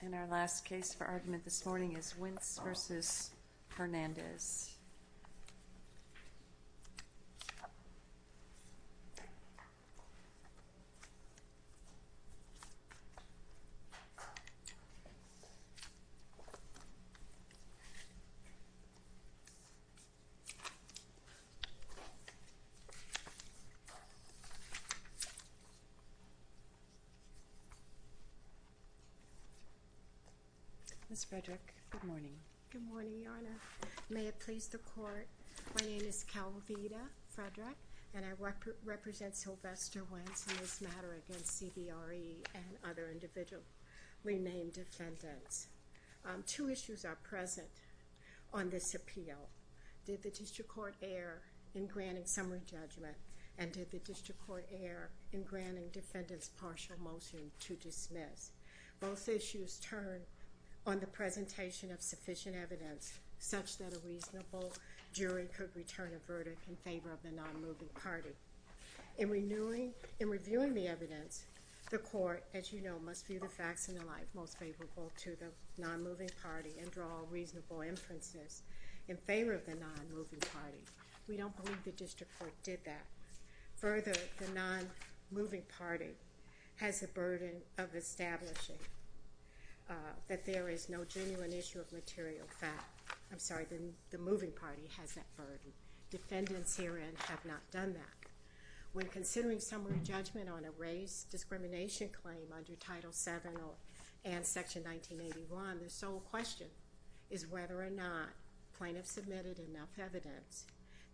And our last case for argument this morning is Wince v. Hernandez. Ms. Frederick, good morning. Good morning, Your Honor. May it please the Court, my name is Calvita Frederick, and I represent Sylvester Wince in this matter against CBRE and other individual renamed defendants. Two issues are present on this appeal. Did the District Court err in granting summary judgment, and did the District Court err in granting defendants partial motion to dismiss? Both issues turn on the presentation of sufficient evidence such that a reasonable jury could return a verdict in favor of the non-moving party. In reviewing the evidence, the Court, as you know, must view the facts in the light most favorable to the non-moving party and draw reasonable inferences in favor of the non-moving party. We don't believe the District Court did that. Further, the non-moving party has the burden of establishing that there is no genuine issue of material fact. I'm sorry, the moving party has that burden. Defendants herein have not done that. When considering summary judgment on a race discrimination claim under Title VII and Section 1981, the sole question is whether or not plaintiffs submitted enough evidence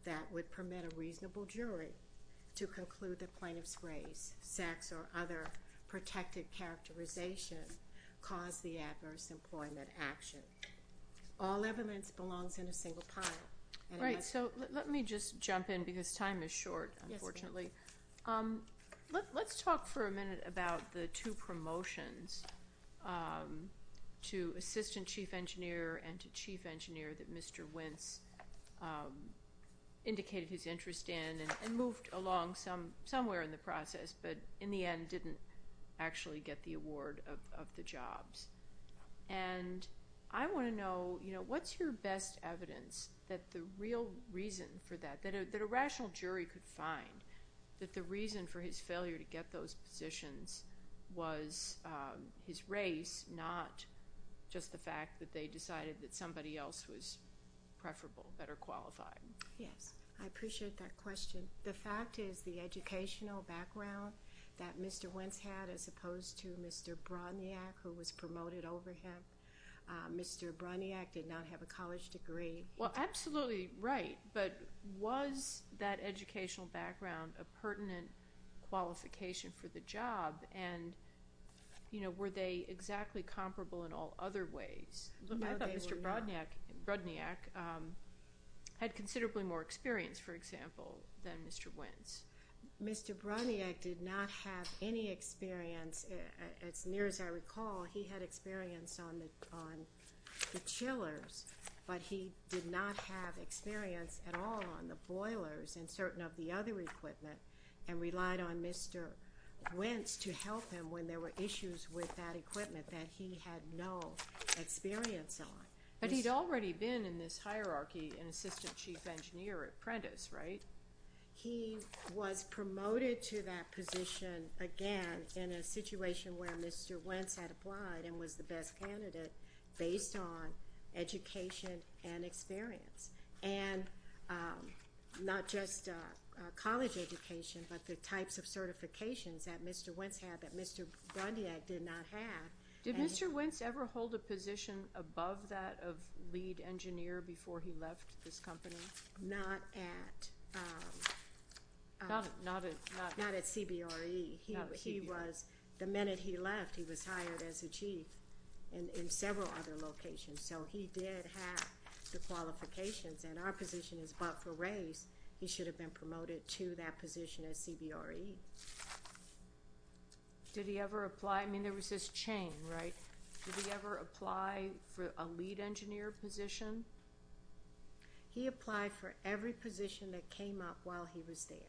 that would permit a reasonable jury to conclude that plaintiff's race, sex, or other protected characterization caused the adverse employment action. All evidence belongs in a single pile. Right. So let me just jump in because time is short, unfortunately. Yes, ma'am. Let's talk for a minute about the two promotions to Assistant Chief Engineer and to Chief Engineer that Mr. Wentz indicated his interest in and moved along somewhere in the process but, in the end, didn't actually get the award of the jobs. And I want to know, you know, what's your best evidence that the real reason for that, that a rational jury could find that the reason for his failure to get those positions was his race, not just the fact that they decided that somebody else was preferable, better qualified? Yes. I appreciate that question. The fact is the educational background that Mr. Wentz had, as opposed to Mr. Bronniak, who was promoted over him. Mr. Bronniak did not have a college degree. Well, absolutely right. But was that educational background a pertinent qualification for the job? And, you know, were they exactly comparable in all other ways? No, they were not. I thought Mr. Bronniak had considerably more experience, for example, than Mr. Wentz. Mr. Bronniak did not have any experience. As near as I recall, he had experience on the chillers, but he did not have experience at all on the boilers and certain of the other equipment and relied on Mr. Wentz to help him when there were issues with that equipment that he had no experience on. But he'd already been in this hierarchy an assistant chief engineer apprentice, right? He was promoted to that position, again, in a situation where Mr. Wentz had applied and was the best candidate based on education and experience, and not just college education, but the types of certifications that Mr. Wentz had that Mr. Bronniak did not have. Did Mr. Wentz ever hold a position above that of lead engineer before he left this company? Not at CBRE. The minute he left, he was hired as a chief in several other locations. So he did have the qualifications, and our position is but for race. He should have been promoted to that position at CBRE. Did he ever apply? I mean, there was this chain, right? Did he ever apply for a lead engineer position? He applied for every position that came up while he was there.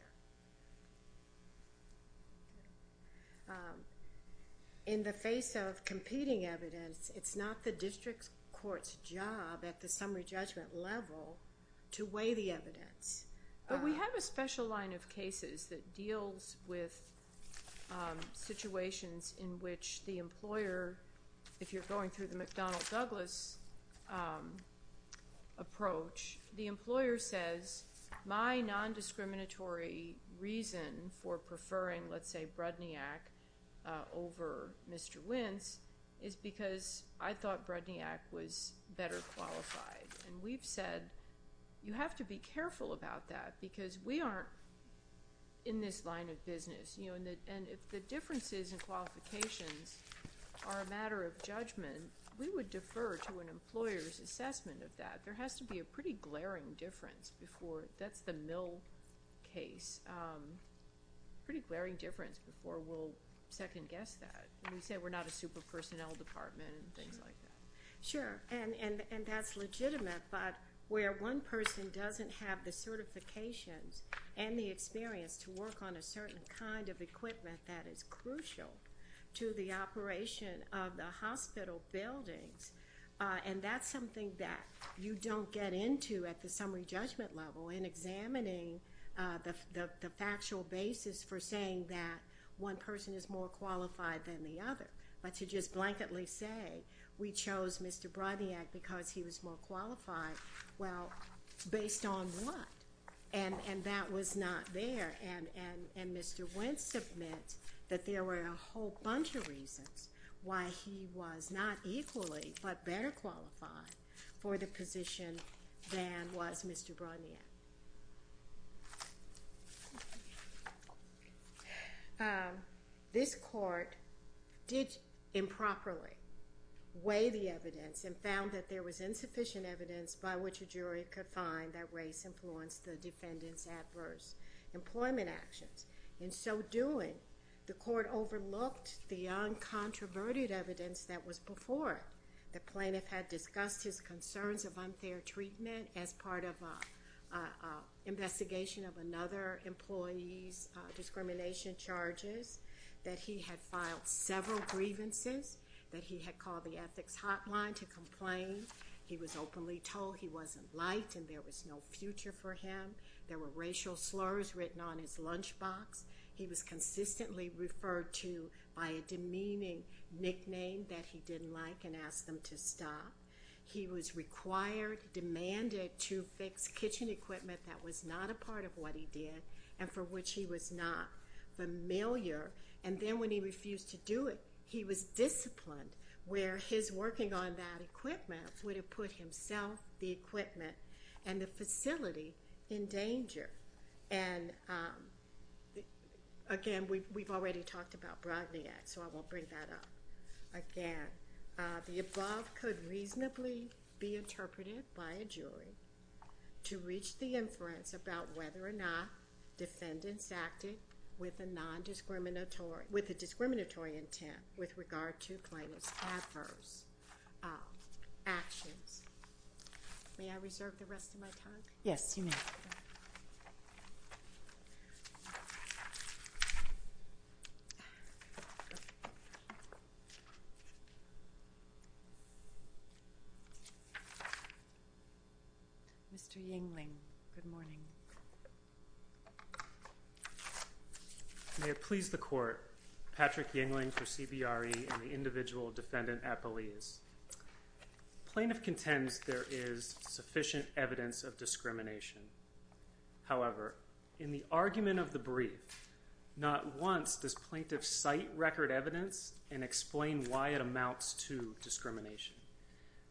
In the face of competing evidence, it's not the district court's job at the summary judgment level to weigh the evidence. But we have a special line of cases that deals with situations in which the employer, if you're going through the McDonnell Douglas approach, the employer says my nondiscriminatory reason for preferring, let's say, Bronniak over Mr. Wentz is because I thought Bronniak was better qualified. And we've said you have to be careful about that because we aren't in this line of business. And if the differences in qualifications are a matter of judgment, we would defer to an employer's assessment of that. But there has to be a pretty glaring difference before. That's the Mill case. Pretty glaring difference before we'll second guess that. And we say we're not a super personnel department and things like that. Sure. And that's legitimate, but where one person doesn't have the certifications and the experience to work on a certain kind of equipment that is crucial to the operation of the hospital buildings, and that's something that you don't get into at the summary judgment level in examining the factual basis for saying that one person is more qualified than the other. But to just blanketly say we chose Mr. Bronniak because he was more qualified, well, based on what? And that was not there. And Mr. Wentz submits that there were a whole bunch of reasons why he was not equally but better qualified for the position than was Mr. Bronniak. This court did improperly weigh the evidence and found that there was insufficient evidence by which a jury could find that race influenced the defendant's adverse employment actions. In so doing, the court overlooked the uncontroverted evidence that was before it. The plaintiff had discussed his concerns of unfair treatment as part of an investigation of another employee's discrimination charges, that he had filed several grievances, that he had called the ethics hotline to complain. He was openly told he wasn't liked and there was no future for him. There were racial slurs written on his lunchbox. He was consistently referred to by a demeaning nickname that he didn't like and asked them to stop. He was required, demanded to fix kitchen equipment that was not a part of what he did and for which he was not familiar. And then when he refused to do it, he was disciplined where his working on that equipment would have put himself, the equipment, and the facility in danger. And again, we've already talked about Bronniak, so I won't bring that up again. The above could reasonably be interpreted by a jury to reach the inference about whether or not defendants acted with a discriminatory intent with regard to plaintiff's adverse actions. May I reserve the rest of my time? Yes, you may. Thank you. Mr. Yingling, good morning. May it please the court, Patrick Yingling for CBRE and the individual defendant at Belize. Plaintiff contends there is sufficient evidence of discrimination. However, in the argument of the brief, not once does plaintiff cite record evidence and explain why it amounts to discrimination.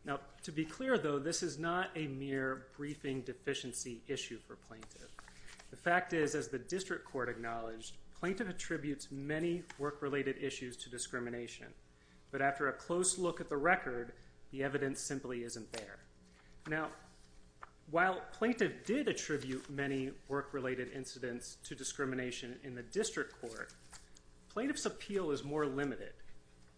Now, to be clear, though, this is not a mere briefing deficiency issue for plaintiff. The fact is, as the district court acknowledged, plaintiff attributes many work-related issues to discrimination. But after a close look at the record, the evidence simply isn't there. Now, while plaintiff did attribute many work-related incidents to discrimination in the district court, plaintiff's appeal is more limited.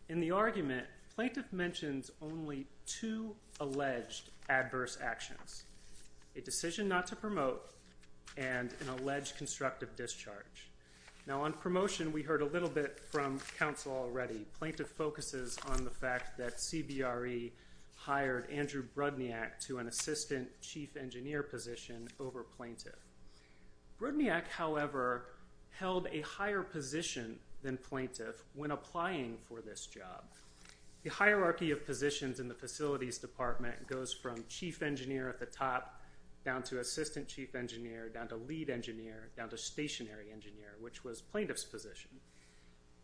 In the argument, plaintiff mentions only two alleged adverse actions, a decision not to promote and an alleged constructive discharge. Now, on promotion, we heard a little bit from counsel already. Plaintiff focuses on the fact that CBRE hired Andrew Brodniak to an assistant chief engineer position over plaintiff. Brodniak, however, held a higher position than plaintiff when applying for this job. The hierarchy of positions in the facilities department goes from chief engineer at the top down to assistant chief engineer, down to lead engineer, down to stationary engineer, which was plaintiff's position.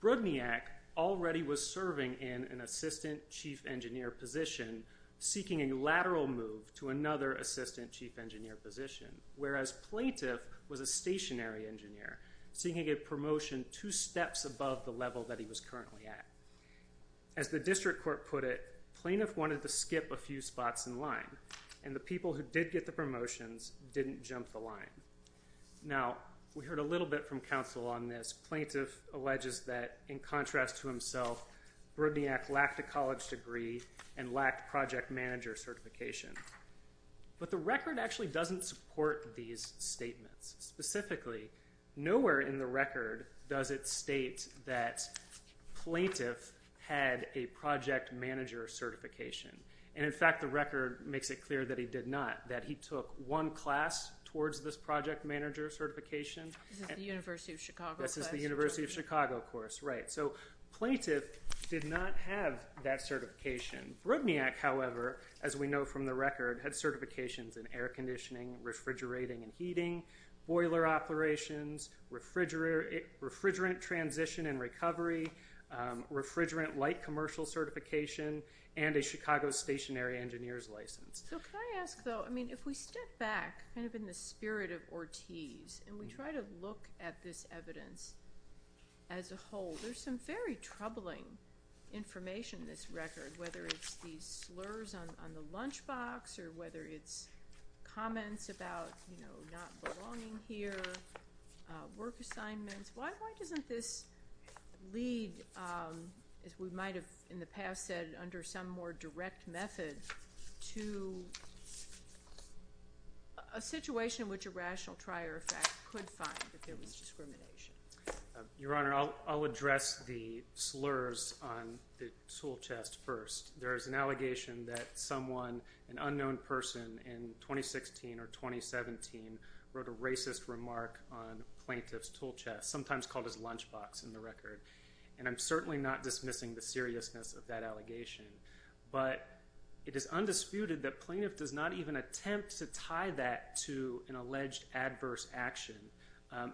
Brodniak already was serving in an assistant chief engineer position, seeking a lateral move to another assistant chief engineer position, whereas plaintiff was a stationary engineer, seeking a promotion two steps above the level that he was currently at. As the district court put it, plaintiff wanted to skip a few spots in line, and the people who did get the promotions didn't jump the line. Now, we heard a little bit from counsel on this. Plaintiff alleges that, in contrast to himself, Brodniak lacked a college degree and lacked project manager certification. But the record actually doesn't support these statements. Specifically, nowhere in the record does it state that plaintiff had a project manager certification. And, in fact, the record makes it clear that he did not, that he took one class towards this project manager certification. This is the University of Chicago course. This is the University of Chicago course, right. So plaintiff did not have that certification. Brodniak, however, as we know from the record, had certifications in air conditioning, refrigerating and heating, boiler operations, refrigerant transition and recovery, refrigerant light commercial certification, and a Chicago stationary engineer's license. So can I ask, though, I mean, if we step back, kind of in the spirit of Ortiz, and we try to look at this evidence as a whole, there's some very troubling information in this record, whether it's these slurs on the lunchbox, or whether it's comments about, you know, not belonging here, work assignments. Why doesn't this lead, as we might have in the past said, under some more direct method, to a situation which a rational trier, in fact, could find if there was discrimination? Your Honor, I'll address the slurs on the tool chest first. There is an allegation that someone, an unknown person in 2016 or 2017, wrote a racist remark on plaintiff's tool chest, sometimes called his lunchbox in the record. And I'm certainly not dismissing the seriousness of that allegation. But it is undisputed that plaintiff does not even attempt to tie that to an alleged adverse action,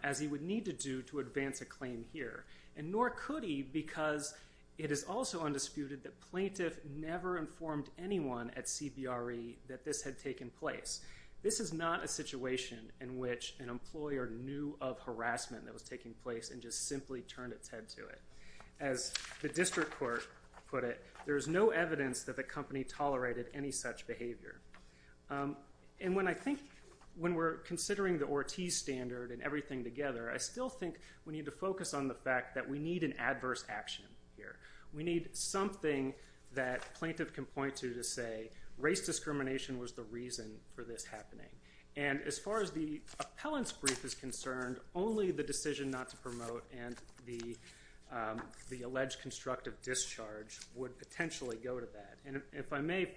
as he would need to do to advance a claim here. And nor could he, because it is also undisputed that plaintiff never informed anyone at CBRE that this had taken place. This is not a situation in which an employer knew of harassment that was taking place and just simply turned its head to it. As the district court put it, there is no evidence that the company tolerated any such behavior. And when I think, when we're considering the Ortiz standard and everything together, I still think we need to focus on the fact that we need an adverse action here. We need something that plaintiff can point to to say race discrimination was the reason for this happening. And as far as the appellant's brief is concerned, only the decision not to promote and the alleged constructive discharge would potentially go to that. And if I may,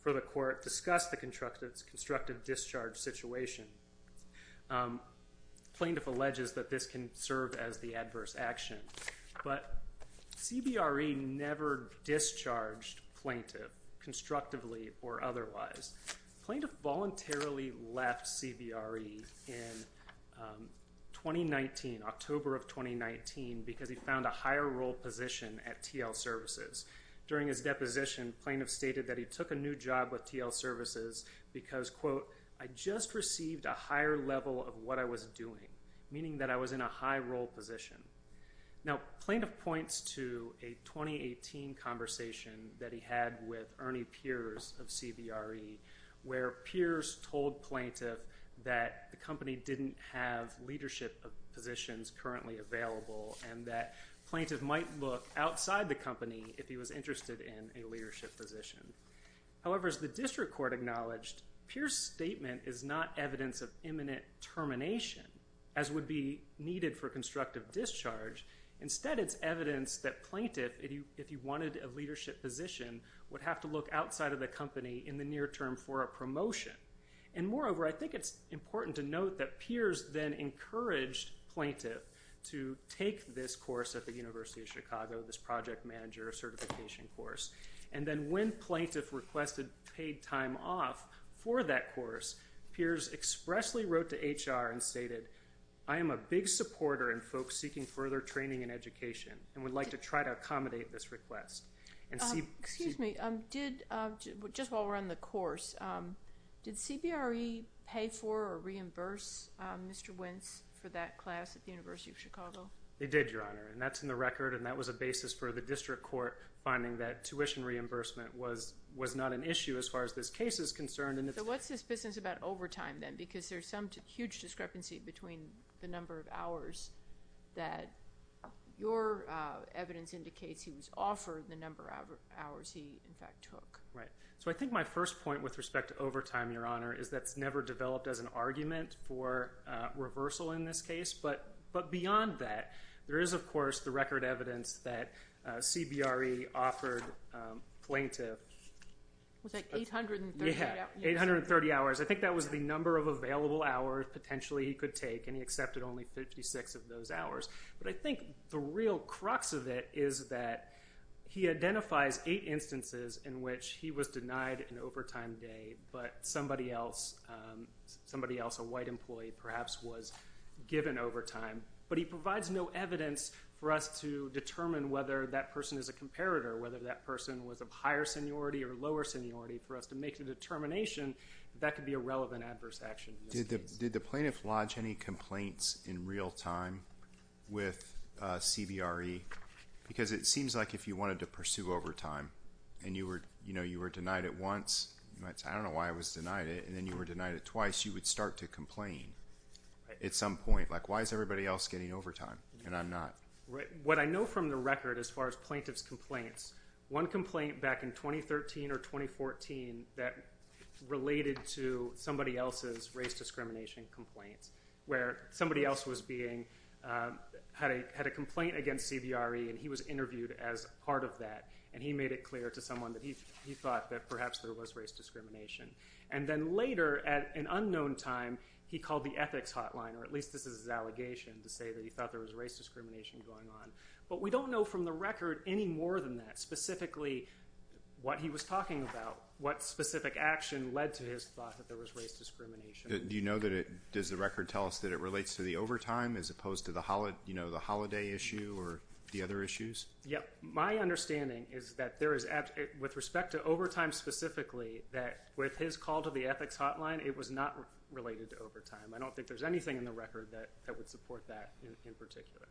for the court, discuss the constructive discharge situation. Plaintiff alleges that this can serve as the adverse action. But CBRE never discharged plaintiff, constructively or otherwise. Plaintiff voluntarily left CBRE in 2019, October of 2019, because he found a higher role position at TL Services. During his deposition, plaintiff stated that he took a new job with TL Services because, quote, I just received a higher level of what I was doing, meaning that I was in a high role position. Now, plaintiff points to a 2018 conversation that he had with Ernie Piers of CBRE, where Piers told plaintiff that the company didn't have leadership positions currently available and that plaintiff might look outside the company if he was interested in a leadership position. However, as the district court acknowledged, Piers' statement is not evidence of imminent termination, as would be needed for constructive discharge. Instead, it's evidence that plaintiff, if he wanted a leadership position, would have to look outside of the company in the near term for a promotion. And moreover, I think it's important to note that Piers then encouraged plaintiff to take this course at the University of Chicago, this project manager certification course. And then when plaintiff requested paid time off for that course, Piers expressly wrote to HR and stated, I am a big supporter in folks seeking further training in education and would like to try to accommodate this request. Excuse me. Just while we're on the course, did CBRE pay for or reimburse Mr. Wentz for that class at the University of Chicago? They did, Your Honor, and that's in the record, and that was a basis for the district court finding that tuition reimbursement was not an issue as far as this case is concerned. So what's this business about overtime then? Because there's some huge discrepancy between the number of hours that your evidence indicates he was offered and the number of hours he in fact took. Right. So I think my first point with respect to overtime, Your Honor, is that's never developed as an argument for reversal in this case. But beyond that, there is, of course, the record evidence that CBRE offered plaintiff. Was that 830 hours? Yeah, 830 hours. I think that was the number of available hours potentially he could take, and he accepted only 56 of those hours. But I think the real crux of it is that he identifies eight instances in which he was denied an overtime day but somebody else, a white employee perhaps, was given overtime. But he provides no evidence for us to determine whether that person is a comparator, whether that person was of higher seniority or lower seniority, for us to make the determination that that could be a relevant adverse action in this case. Did the plaintiff lodge any complaints in real time with CBRE? Because it seems like if you wanted to pursue overtime and you were denied it once, you might say, I don't know why I was denied it, and then you were denied it twice, you would start to complain at some point. Like, why is everybody else getting overtime and I'm not? What I know from the record as far as plaintiff's complaints, one complaint back in 2013 or 2014 that related to somebody else's race discrimination complaints where somebody else had a complaint against CBRE and he was interviewed as part of that and he made it clear to someone that he thought that perhaps there was race discrimination. And then later, at an unknown time, he called the ethics hotline, or at least this is his allegation to say that he thought there was race discrimination going on. But we don't know from the record any more than that, specifically what he was talking about, what specific action led to his thought that there was race discrimination. Do you know that it, does the record tell us that it relates to the overtime as opposed to the holiday issue or the other issues? My understanding is that there is, with respect to overtime specifically, that with his call to the ethics hotline, it was not related to overtime. I don't think there's anything in the record that would support that in particular.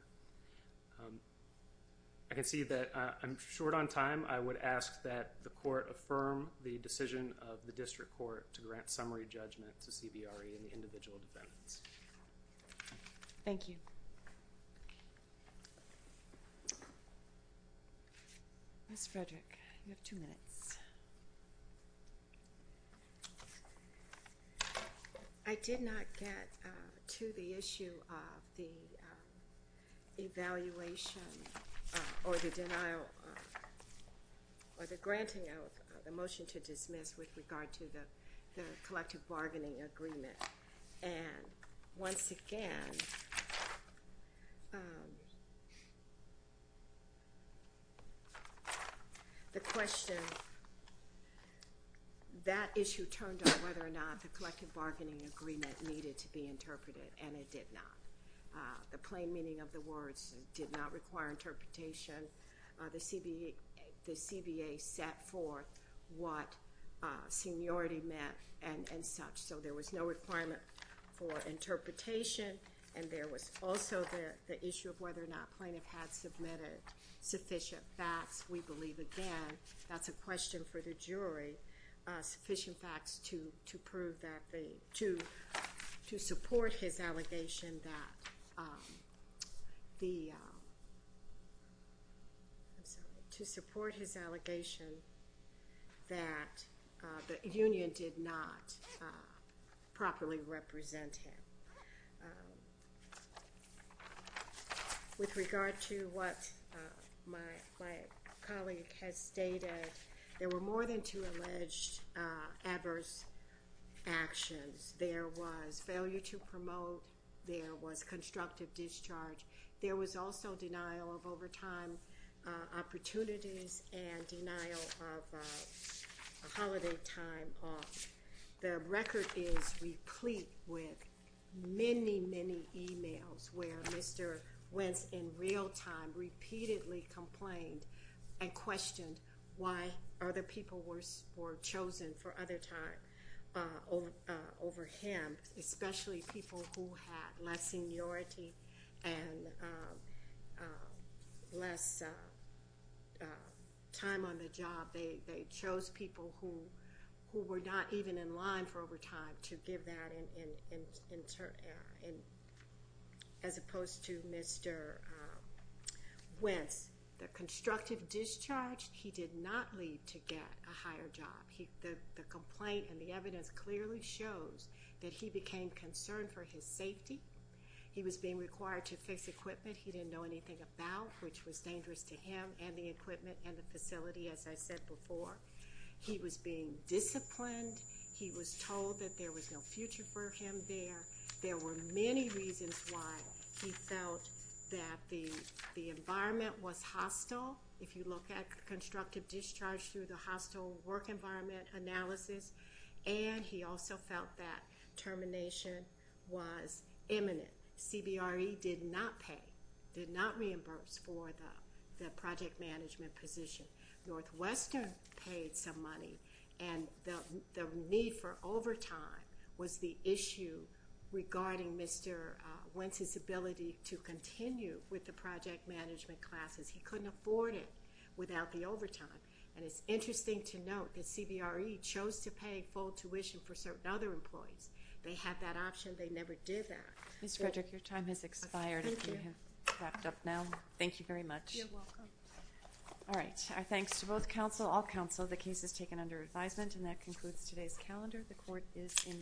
I can see that I'm short on time. I would ask that the court affirm the decision of the district court to grant summary judgment to CBRE and the individual defendants. Thank you. Ms. Frederick, you have two minutes. Yes. I did not get to the issue of the evaluation or the denial or the granting of the motion to dismiss with regard to the collective bargaining agreement. And once again, the question, that issue turned on whether or not the collective bargaining agreement needed to be interpreted, and it did not. The plain meaning of the words did not require interpretation. The CBA set forth what seniority meant and such. So there was no requirement for interpretation, and there was also the issue of whether or not plaintiff had submitted sufficient facts. We believe, again, that's a question for the jury, sufficient facts to support his allegation that the union did not properly represent him. With regard to what my colleague has stated, there were more than two alleged adverse actions. There was failure to promote. There was constructive discharge. There was also denial of overtime opportunities and denial of holiday time off. The record is replete with many, many e-mails where Mr. Wentz in real time repeatedly complained and questioned why other people were chosen for other time over him, especially people who had less seniority and less time on the job. They chose people who were not even in line for overtime to give that, as opposed to Mr. Wentz. The constructive discharge, he did not lead to get a higher job. The complaint and the evidence clearly shows that he became concerned for his safety. He was being required to fix equipment he didn't know anything about, which was dangerous to him and the equipment and the facility, as I said before. He was being disciplined. He was told that there was no future for him there. There were many reasons why he felt that the environment was hostile. If you look at constructive discharge through the hostile work environment analysis, and he also felt that termination was imminent. CBRE did not pay, did not reimburse for the project management position. Northwestern paid some money, and the need for overtime was the issue regarding Mr. Wentz's ability to continue with the project management classes. He couldn't afford it without the overtime. And it's interesting to note that CBRE chose to pay full tuition for certain other employees. They had that option. They never did that. Ms. Frederick, your time has expired. Thank you. You have wrapped up now. Thank you very much. You're welcome. All right. Our thanks to both counsel, all counsel. The case is taken under advisement, and that concludes today's calendar. The court is in recess.